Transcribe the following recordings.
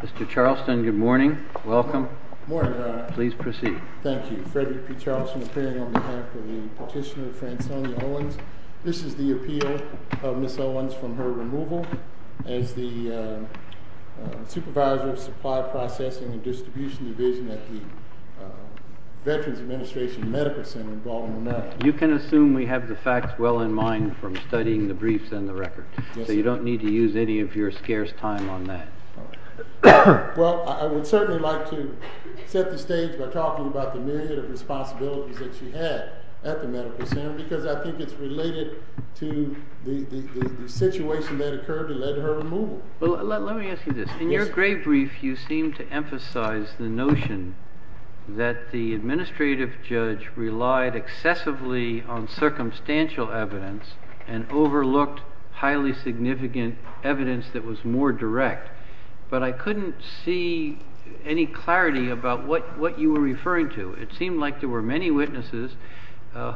Mr. Charleston, good morning. Welcome. Good morning, Your Honor. Please proceed. Thank you. Frederick P. Charleston, appearing on behalf of the petitioner Fransonia Owens. This is the appeal of Ms. Owens from her removal as the Supervisor of Supply Processing and Distribution Division at the Veterans Administration Medical Center in Baltimore, MD. You can assume we have the facts well in mind from studying the briefs and the records. Yes, sir. So you don't need to use any of your scarce time on that. Well, I would certainly like to set the stage by talking about the myriad of responsibilities that she had at the medical center because I think it's related to the situation that occurred in her removal. Well, let me ask you this. Yes, sir. In your grave brief, you seem to emphasize the notion that the administrative judge relied excessively on circumstantial evidence and overlooked highly significant evidence that was more direct. But I couldn't see any clarity about what you were referring to. It seemed like there were many witnesses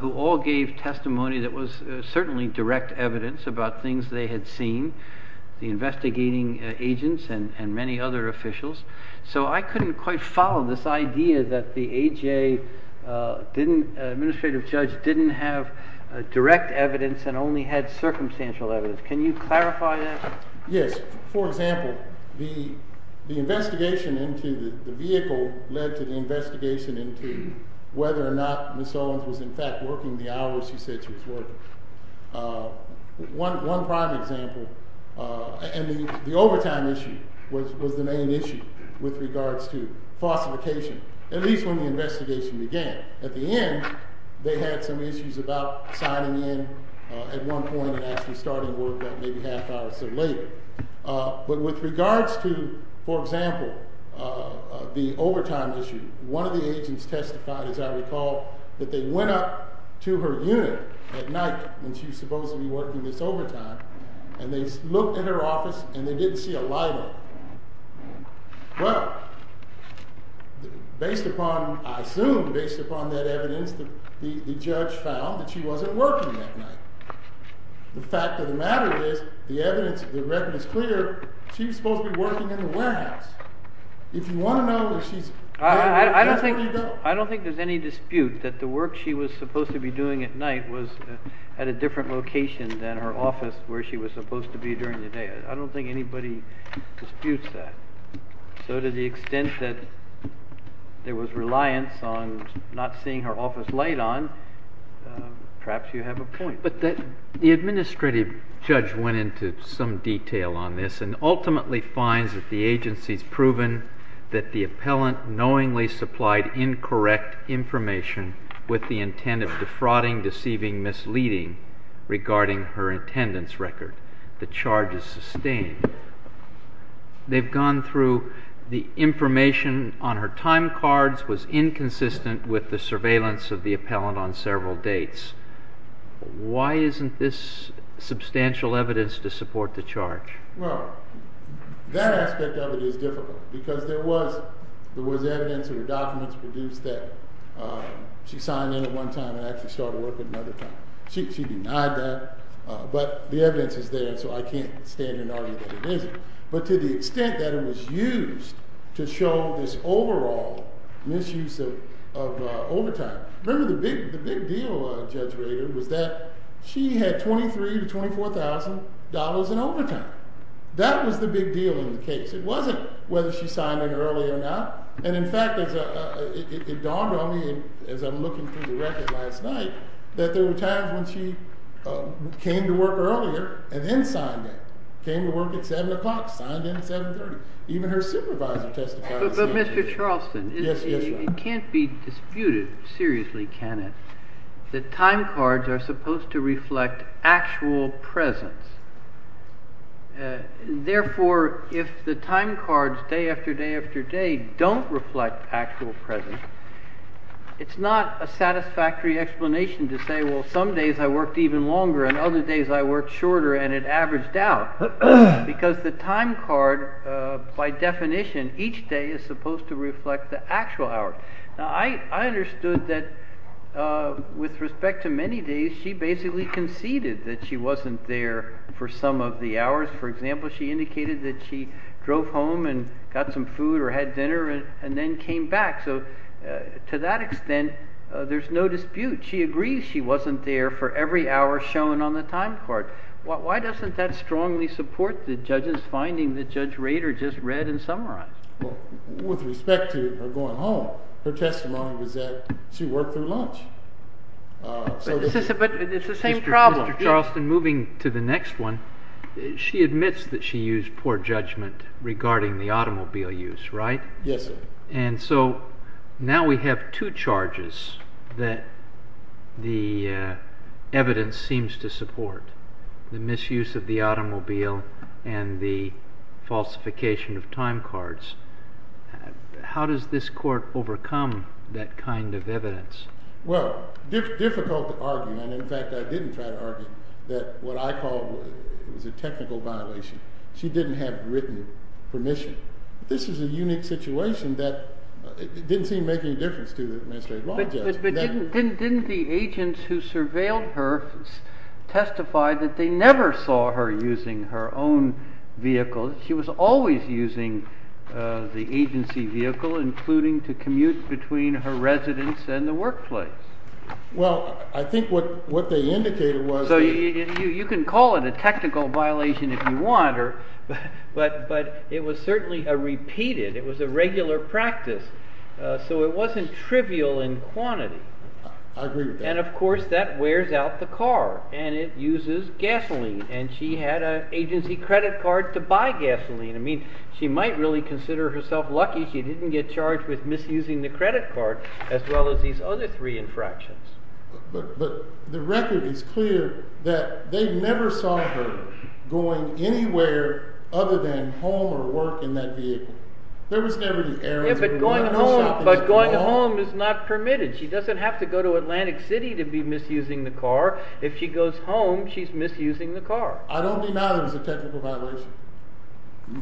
who all gave testimony that was certainly direct evidence about things they had seen, the investigating agents and many other officials. So I couldn't quite follow this idea that the A.J. administrative judge didn't have direct evidence and only had circumstantial evidence. Can you clarify that? Yes. For example, the investigation into the vehicle led to the investigation into whether or not Ms. Owens was in fact working the hours she said she was working. One prime example, and the overtime issue was the main issue with regards to falsification, at least when the investigation began. At the end, they had some issues about signing in at one point and actually starting work about maybe half hour or so later. But with regards to, for example, the overtime issue, one of the agents testified, as I recall, that they went up to her unit at night when she was supposed to be working this overtime and they looked at her office and they didn't see a light on. Well, based upon, I assume, based upon that evidence, the judge found that she wasn't working that night. The fact of the matter is, the evidence, the record is clear, she was supposed to be working in the warehouse. If you want to know that she's working, that's where you go. I don't think there's any dispute that the work she was supposed to be doing at night was at a different location than her office where she was supposed to be during the day. I don't think anybody disputes that. So to the extent that there was reliance on not seeing her office light on, perhaps you have a point. But the administrative judge went into some detail on this and ultimately finds that the agency's proven that the appellant knowingly supplied incorrect information with the intent of defrauding, deceiving, misleading regarding her attendance record. The charge is sustained. They've gone through the information on her time cards was inconsistent with the surveillance of the appellant on several dates. Why isn't this substantial evidence to support the charge? Well, that aspect of it is difficult. Because there was evidence in her documents produced that she signed in at one time and actually started working another time. She denied that, but the evidence is there, so I can't stand and argue that it isn't. But to the extent that it was used to show this overall misuse of overtime. Remember the big deal, Judge Rader, was that she had $23,000 to $24,000 in overtime. That was the big deal in the case. It wasn't whether she signed in early or not. And in fact, it dawned on me as I'm looking through the record last night, that there Even her supervisor testified. But Mr. Charleston, it can't be disputed, seriously, can it, that time cards are supposed to reflect actual presence. Therefore, if the time cards day after day after day don't reflect actual presence, it's not a satisfactory explanation to say, well, some days I worked even longer and other days I worked shorter and it averaged out. Because the time card, by definition, each day is supposed to reflect the actual hours. Now, I understood that with respect to many days, she basically conceded that she wasn't there for some of the hours. For example, she indicated that she drove home and got some food or had dinner and then came back. So to that extent, there's no dispute. She agrees she wasn't there for every hour shown on the time card. Why doesn't that strongly support the judge's finding that Judge Rader just read and summarized? Well, with respect to her going home, her testimony was that she worked through lunch. But it's the same problem. Mr. Charleston, moving to the next one, she admits that she used poor judgment regarding the automobile use, right? Yes, sir. And so now we have two charges that the evidence seems to support, the misuse of the automobile and the falsification of time cards. How does this court overcome that kind of evidence? Well, difficult to argue. And in fact, I didn't try to argue that what I called was a technical violation. She didn't have written permission. This is a unique situation that didn't seem to make any difference to the administrative law judge. But didn't the agents who surveilled her testify that they never saw her using her own vehicle? She was always using the agency vehicle, including to commute between her residence and the workplace. Well, I think what they indicated was that So you can call it a technical violation if you want. But it was certainly a repeated. It was a regular practice. So it wasn't trivial in quantity. I agree with that. And of course, that wears out the car. And it uses gasoline. And she had an agency credit card to buy gasoline. I mean, she might really consider herself lucky she didn't get charged with misusing the credit card, as well as these other three infractions. But the record is clear that they never saw her going anywhere other than home or work in that vehicle. There was never any errors. But going home is not permitted. She doesn't have to go to Atlantic City to be misusing the car. If she goes home, she's misusing the car. I don't deny that it was a technical violation.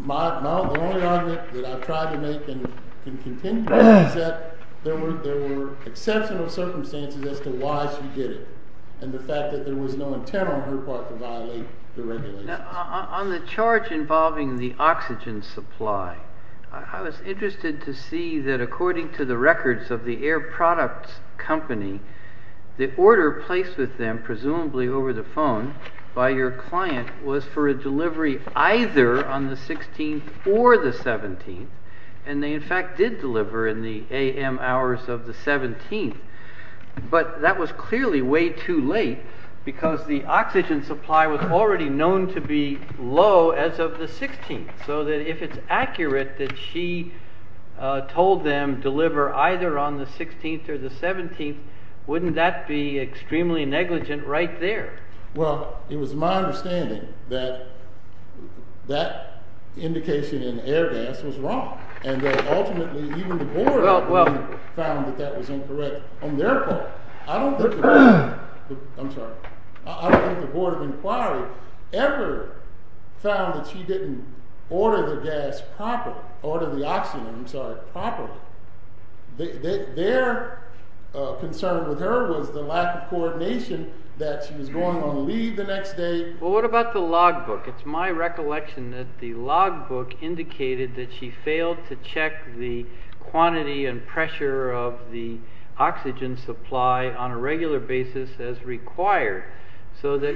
The only argument that I've tried to make and can continue to make is that there were exceptional circumstances as to why she did it and the fact that there was no intent on her part to violate the regulations. On the charge involving the oxygen supply, I was interested to see that according to the records of the air products company, the order placed with them, presumably over the phone by your client, was for a delivery either on the 16th or the 17th. And they, in fact, did deliver in the a.m. hours of the 17th. But that was clearly way too late because the oxygen supply was already known to be low as of the 16th. So that if it's accurate that she told them deliver either on the 16th or the 17th, wouldn't that be extremely negligent right there? Well, it was my understanding that that indication in air gas was wrong and that ultimately even the board of inquiry found that that was incorrect on their part. I don't think the board of inquiry ever found that she didn't order the gas properly, order the oxygen, I'm sorry, properly. Their concern with her was the lack of coordination that she was going to leave the next day. Well, what about the logbook? It's my recollection that the logbook indicated that she failed to check the quantity and pressure of the oxygen supply on a regular basis as required. So that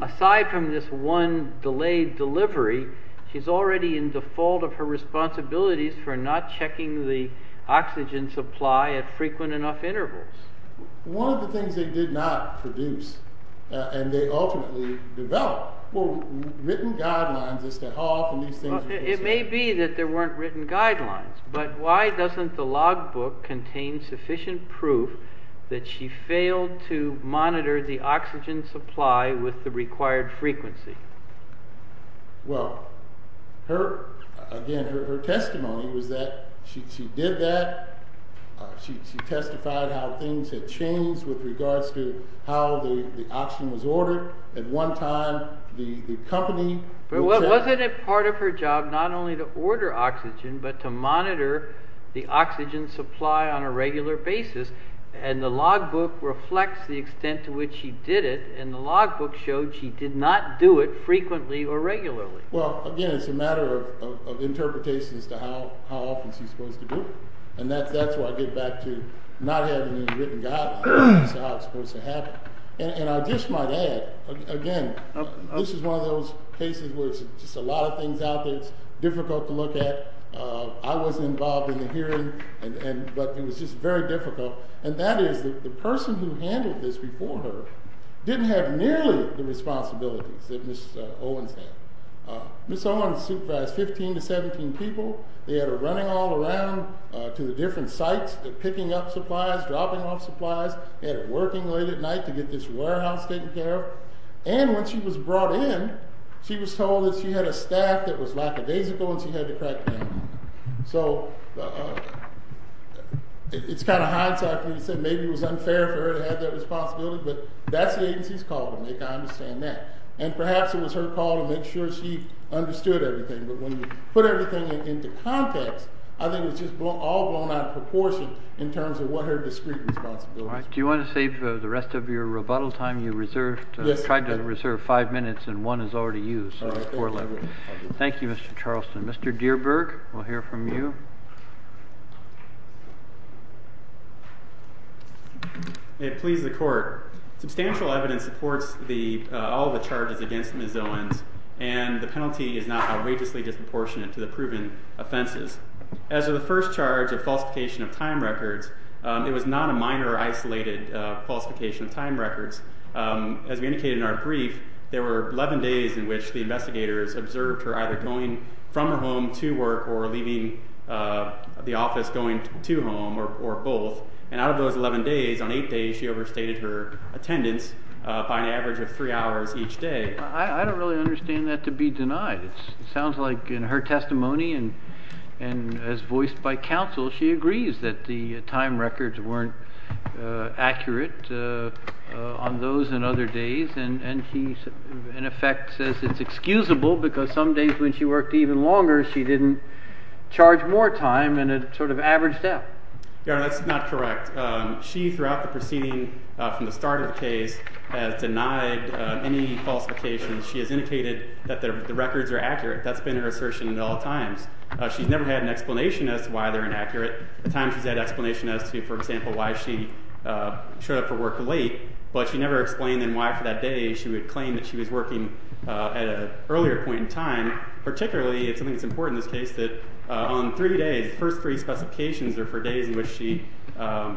aside from this one delayed delivery, she's already in default of her responsibilities for not checking the oxygen supply at frequent enough intervals. One of the things they did not produce and they ultimately developed were written guidelines as to how often these things were considered. It may be that there weren't written guidelines, but why doesn't the logbook contain sufficient proof that she failed to monitor the oxygen supply with the required frequency? Well, again, her testimony was that she did that. She testified how things had changed with regards to how the oxygen was ordered. At one time the company... But wasn't it part of her job not only to order oxygen but to monitor the oxygen supply on a regular basis? And the logbook reflects the extent to which she did it and the logbook showed she did not do it frequently or regularly. Well, again, it's a matter of interpretation as to how often she's supposed to do it. And that's why I get back to not having any written guidelines as to how it's supposed to happen. And I just might add, again, this is one of those cases where it's just a lot of things out there. It's difficult to look at. I wasn't involved in the hearing, but it was just very difficult. And that is the person who handled this before her didn't have nearly the responsibilities that Ms. Owens had. Ms. Owens supervised 15 to 17 people. They had her running all around to the different sites, picking up supplies, dropping off supplies. They had her working late at night to get this warehouse taken care of. And when she was brought in, she was told that she had a stack that was lackadaisical and she had to crack down on it. So it's kind of hindsight for me to say maybe it was unfair for her to have that responsibility, but that's the agency's call to make. I understand that. And perhaps it was her call to make sure she understood everything. But when you put everything into context, I think it's just all blown out of proportion in terms of what her discrete responsibilities were. Do you want to save the rest of your rebuttal time you reserved? Yes. I tried to reserve five minutes, and one is already used. All right. Thank you. Thank you, Mr. Charleston. Mr. Deerberg, we'll hear from you. It pleases the court. Substantial evidence supports all the charges against Ms. Owens, and the penalty is not outrageously disproportionate to the proven offenses. As of the first charge of falsification of time records, it was not a minor isolated falsification of time records. As we indicated in our brief, there were 11 days in which the investigators observed her either going from her home to work or leaving the office going to home or both. And out of those 11 days, on eight days she overstated her attendance by an average of three hours each day. I don't really understand that to be denied. It sounds like in her testimony and as voiced by counsel, she agrees that the time records weren't accurate on those and other days. And he, in effect, says it's excusable because some days when she worked even longer, she didn't charge more time and it sort of averaged out. That's not correct. She, throughout the proceeding from the start of the case, has denied any falsifications. She has indicated that the records are accurate. That's been her assertion at all times. She's never had an explanation as to why they're inaccurate. At times she's had an explanation as to, for example, why she showed up for work late, but she never explained then why for that day she would claim that she was working at an earlier point in time. Particularly, it's something that's important in this case, that on three days, the first three specifications are for days in which she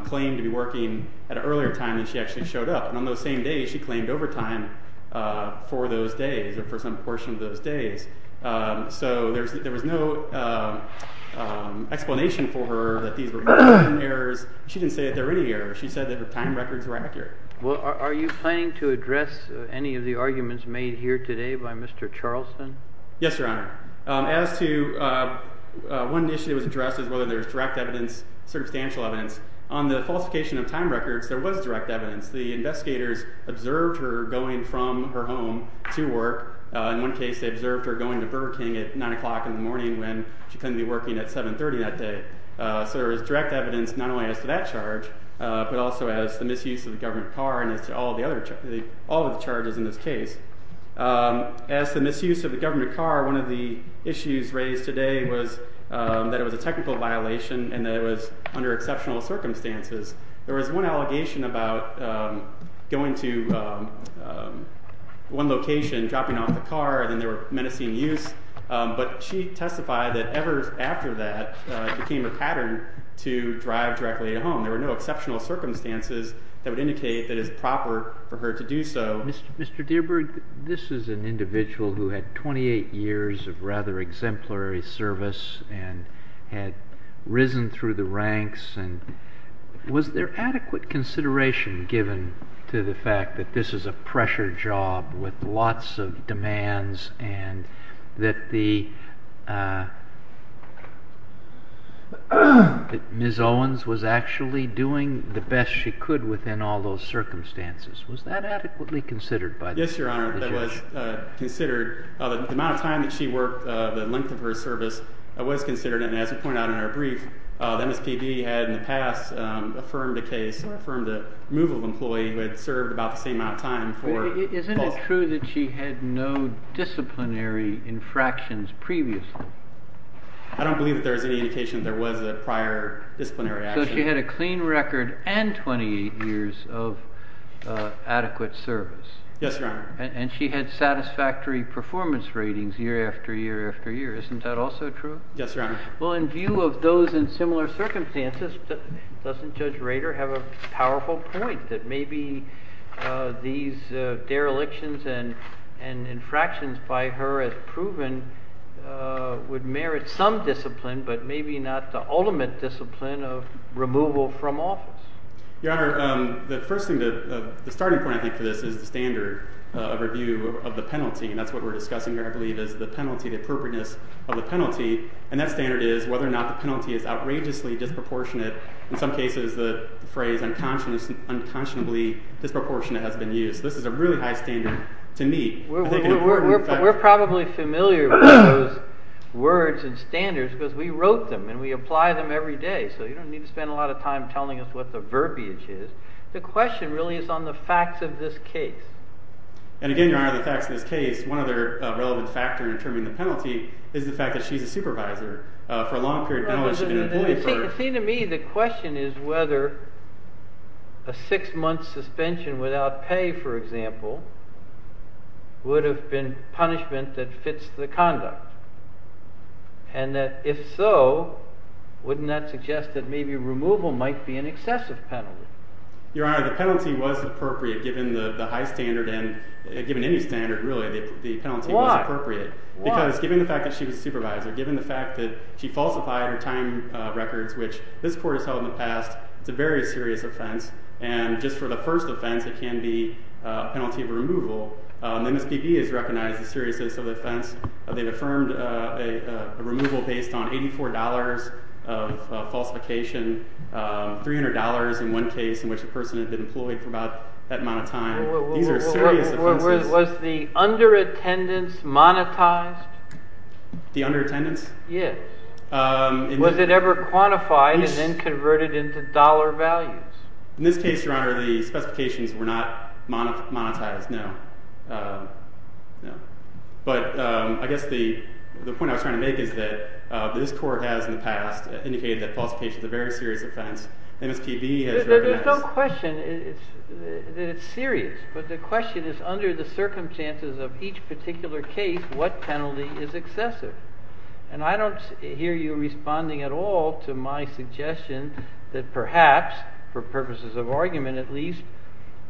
claimed to be working at an earlier time than she actually showed up. And on those same days, she claimed overtime for those days or for some portion of those days. So there was no explanation for her that these were errors. She didn't say that there were any errors. She said that her time records were accurate. Are you planning to address any of the arguments made here today by Mr. Charlson? Yes, Your Honor. As to one issue that was addressed, whether there was direct evidence, circumstantial evidence, on the falsification of time records, there was direct evidence. The investigators observed her going from her home to work. In one case, they observed her going to Burger King at 9 o'clock in the morning when she claimed to be working at 7.30 that day. So there was direct evidence not only as to that charge, but also as to the misuse of the government car and as to all of the charges in this case. As to the misuse of the government car, one of the issues raised today was that it was a technical violation and that it was under exceptional circumstances. There was one allegation about going to one location, dropping off the car, and then there were menacing use. But she testified that ever after that, it became a pattern to drive directly at home. There were no exceptional circumstances that would indicate that it is proper for her to do so. Mr. Dierberg, this is an individual who had 28 years of rather exemplary service and had risen through the ranks. Was there adequate consideration given to the fact that this is a pressure job with lots of demands and that Ms. Owens was actually doing the best she could within all those circumstances? Was that adequately considered by the judge? Yes, Your Honor, that was considered. The amount of time that she worked, the length of her service was considered, and as we pointed out in our brief, the MSPB had in the past affirmed a case or affirmed a removal of an employee who had served about the same amount of time for both. Isn't it true that she had no disciplinary infractions previously? I don't believe that there is any indication that there was a prior disciplinary action. So she had a clean record and 28 years of adequate service. Yes, Your Honor. And she had satisfactory performance ratings year after year after year. Isn't that also true? Yes, Your Honor. Well, in view of those and similar circumstances, doesn't Judge Rader have a powerful point that maybe these derelictions and infractions by her as proven would merit some discipline but maybe not the ultimate discipline of removal from office? Your Honor, the starting point, I think, for this is the standard of review of the penalty, and that's what we're discussing here, I believe, is the penalty, the appropriateness of the penalty. And that standard is whether or not the penalty is outrageously disproportionate. In some cases, the phrase unconscionably disproportionate has been used. This is a really high standard to meet. We're probably familiar with those words and standards because we wrote them and we apply them every day, so you don't need to spend a lot of time telling us what the verbiage is. The question really is on the facts of this case. And again, Your Honor, the facts of this case, one other relevant factor in determining the penalty is the fact that she's a supervisor. For a long period of time, she's been an employee for- See, to me, the question is whether a six-month suspension without pay, for example, would have been punishment that fits the conduct. And if so, wouldn't that suggest that maybe removal might be an excessive penalty? Your Honor, the penalty was appropriate given the high standard and given any standard, really. The penalty was appropriate. Why? Because given the fact that she was a supervisor, given the fact that she falsified her time records, which this court has held in the past, it's a very serious offense. And just for the first offense, it can be a penalty of removal. MSPB has recognized the seriousness of the offense. They've affirmed a removal based on $84 of falsification, $300 in one case in which the person had been employed for about that amount of time. These are serious offenses. Was the under-attendance monetized? The under-attendance? Yes. Was it ever quantified and then converted into dollar values? In this case, Your Honor, the specifications were not monetized, no. But I guess the point I was trying to make is that this court has, in the past, indicated that falsification is a very serious offense. MSPB has recognized- There's no question that it's serious, but the question is under the circumstances of each particular case, what penalty is excessive? And I don't hear you responding at all to my suggestion that perhaps, for purposes of argument at least,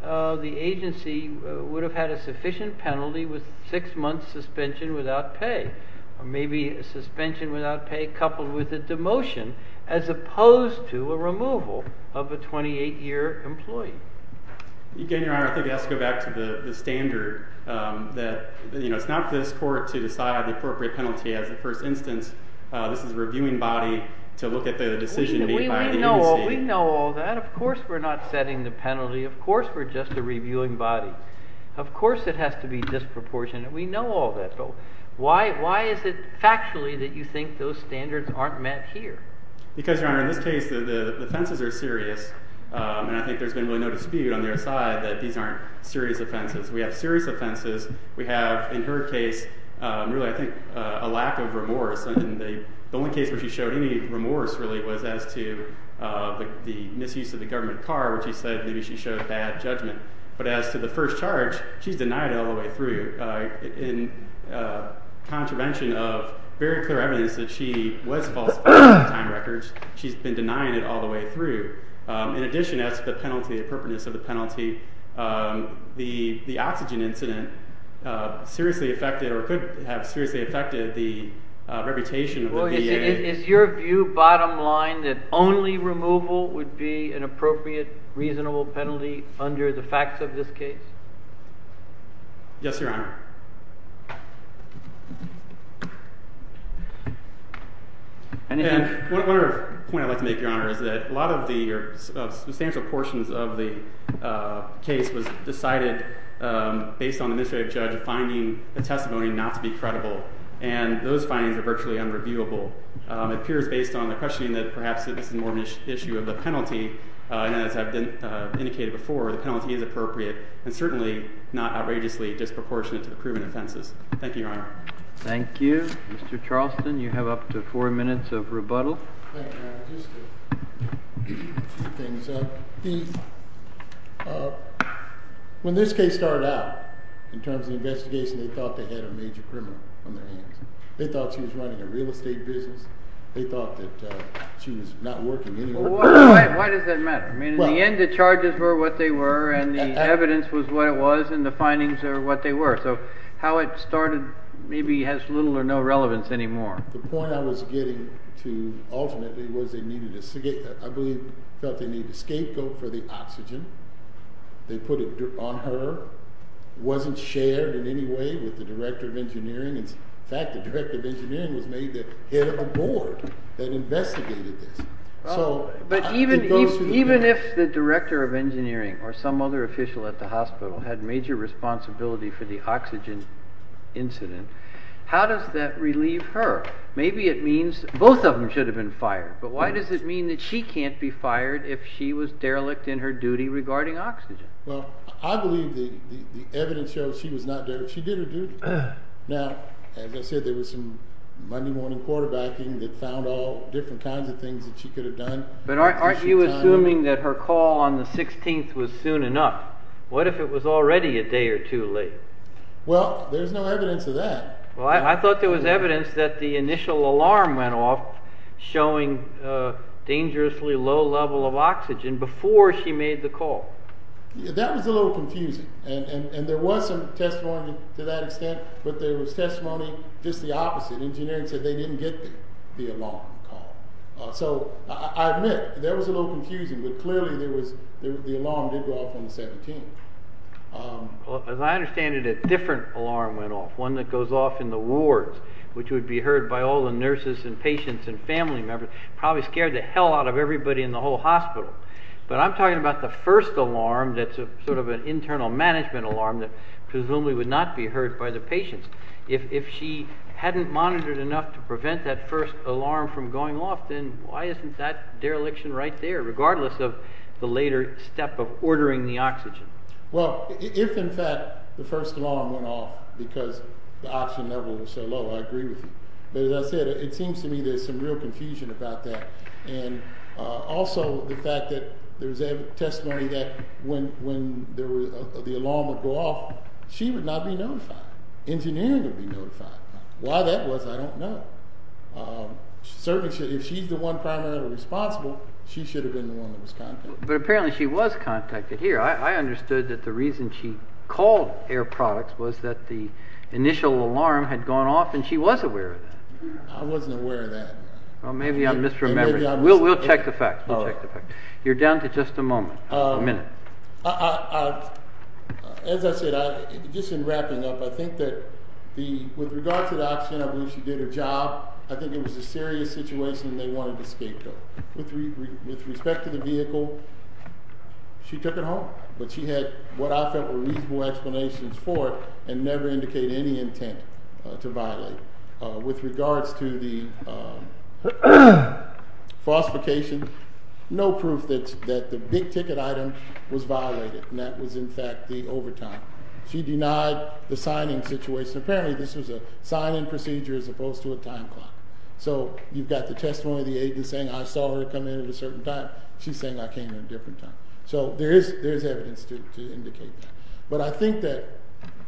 the agency would have had a sufficient penalty with six months' suspension without pay or maybe a suspension without pay coupled with a demotion as opposed to a removal of a 28-year employee. Again, Your Honor, I think I have to go back to the standard that it's not for this court to decide the appropriate penalty. As a first instance, this is a reviewing body to look at the decision made by the agency. We know all that. Of course we're not setting the penalty. Of course we're just a reviewing body. Of course it has to be disproportionate. We know all that. So why is it factually that you think those standards aren't met here? Because, Your Honor, in this case the offenses are serious, and I think there's been really no dispute on their side that these aren't serious offenses. We have serious offenses. We have, in her case, really I think a lack of remorse. And the only case where she showed any remorse really was as to the misuse of the government car, where she said maybe she showed bad judgment. But as to the first charge, she's denied it all the way through. In contravention of very clear evidence that she was falsifying time records, she's been denying it all the way through. In addition, as to the penalty, the appropriateness of the penalty, the oxygen incident seriously affected or could have seriously affected the reputation of the VA. Is your view bottom line that only removal would be an appropriate, reasonable penalty under the facts of this case? Yes, Your Honor. And one other point I'd like to make, Your Honor, is that a lot of the substantial portions of the case was decided based on the administrative judge finding the testimony not to be credible, and those findings are virtually unreviewable. It appears based on the questioning that perhaps this is more an issue of the penalty, and as I've indicated before, the penalty is appropriate. It's certainly not outrageously disproportionate to the criminal offenses. Thank you, Your Honor. Thank you. Mr. Charleston, you have up to four minutes of rebuttal. When this case started out, in terms of investigation, they thought they had a major criminal on their hands. They thought she was running a real estate business. They thought that she was not working anywhere. Why does that matter? I mean, in the end, the charges were what they were, and the evidence was what it was, and the findings are what they were. So how it started maybe has little or no relevance anymore. The point I was getting to ultimately was they needed a scapegoat for the oxygen. They put it on her. It wasn't shared in any way with the director of engineering. In fact, the director of engineering was made the head of a board that investigated this. But even if the director of engineering or some other official at the hospital had major responsibility for the oxygen incident, how does that relieve her? Maybe it means both of them should have been fired, but why does it mean that she can't be fired if she was derelict in her duty regarding oxygen? Well, I believe the evidence shows she was not derelict. She did her duty. Now, as I said, there was some Monday morning quarterbacking that found all different kinds of things that she could have done. But aren't you assuming that her call on the 16th was soon enough? What if it was already a day or two late? Well, there's no evidence of that. Well, I thought there was evidence that the initial alarm went off showing dangerously low level of oxygen before she made the call. That was a little confusing, and there was some testimony to that extent, but there was testimony just the opposite. Engineering said they didn't get the alarm call. So I admit that was a little confusing, but clearly the alarm did go off on the 17th. As I understand it, a different alarm went off, one that goes off in the wards, which would be heard by all the nurses and patients and family members, probably scared the hell out of everybody in the whole hospital. But I'm talking about the first alarm that's sort of an internal management alarm that presumably would not be heard by the patients. If she hadn't monitored enough to prevent that first alarm from going off, then why isn't that dereliction right there, regardless of the later step of ordering the oxygen? Well, if in fact the first alarm went off because the oxygen level was so low, I agree with you. But as I said, it seems to me there's some real confusion about that. And also the fact that there was testimony that when the alarm would go off, she would not be notified. Engineering would be notified. Why that was, I don't know. Certainly if she's the one primarily responsible, she should have been the one that was contacted. But apparently she was contacted here. I understood that the reason she called Air Products was that the initial alarm had gone off and she was aware of that. I wasn't aware of that. Well, maybe I'm misremembering. We'll check the facts. You're down to just a moment, a minute. As I said, just in wrapping up, I think that with regard to the oxygen, I believe she did her job. I think it was a serious situation and they wanted to escape her. With respect to the vehicle, she took it home. But she had what I felt were reasonable explanations for it and never indicated any intent to violate. With regards to the falsification, no proof that the big ticket item was violated. That was, in fact, the overtime. She denied the signing situation. Apparently this was a sign-in procedure as opposed to a time clock. You've got the testimony of the agent saying, I saw her come in at a certain time. She's saying I came in at a different time. There is evidence to indicate that. But I think that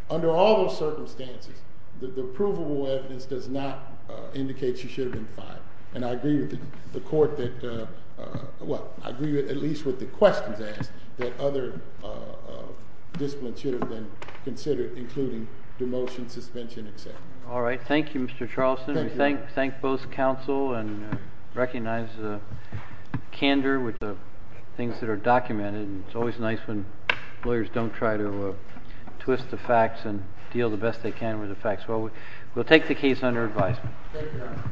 under all those circumstances, the provable evidence does not indicate she should have been fined. And I agree with the court that, well, I agree at least with the questions asked that other disciplines should have been considered, including demotion, suspension, et cetera. All right. Thank you, Mr. Charleston. Thank you. We thank both counsel and recognize the candor with the things that are documented. It's always nice when lawyers don't try to twist the facts and deal the best they can with the facts. Well, we'll take the case under advisement. Thank you, Your Honor.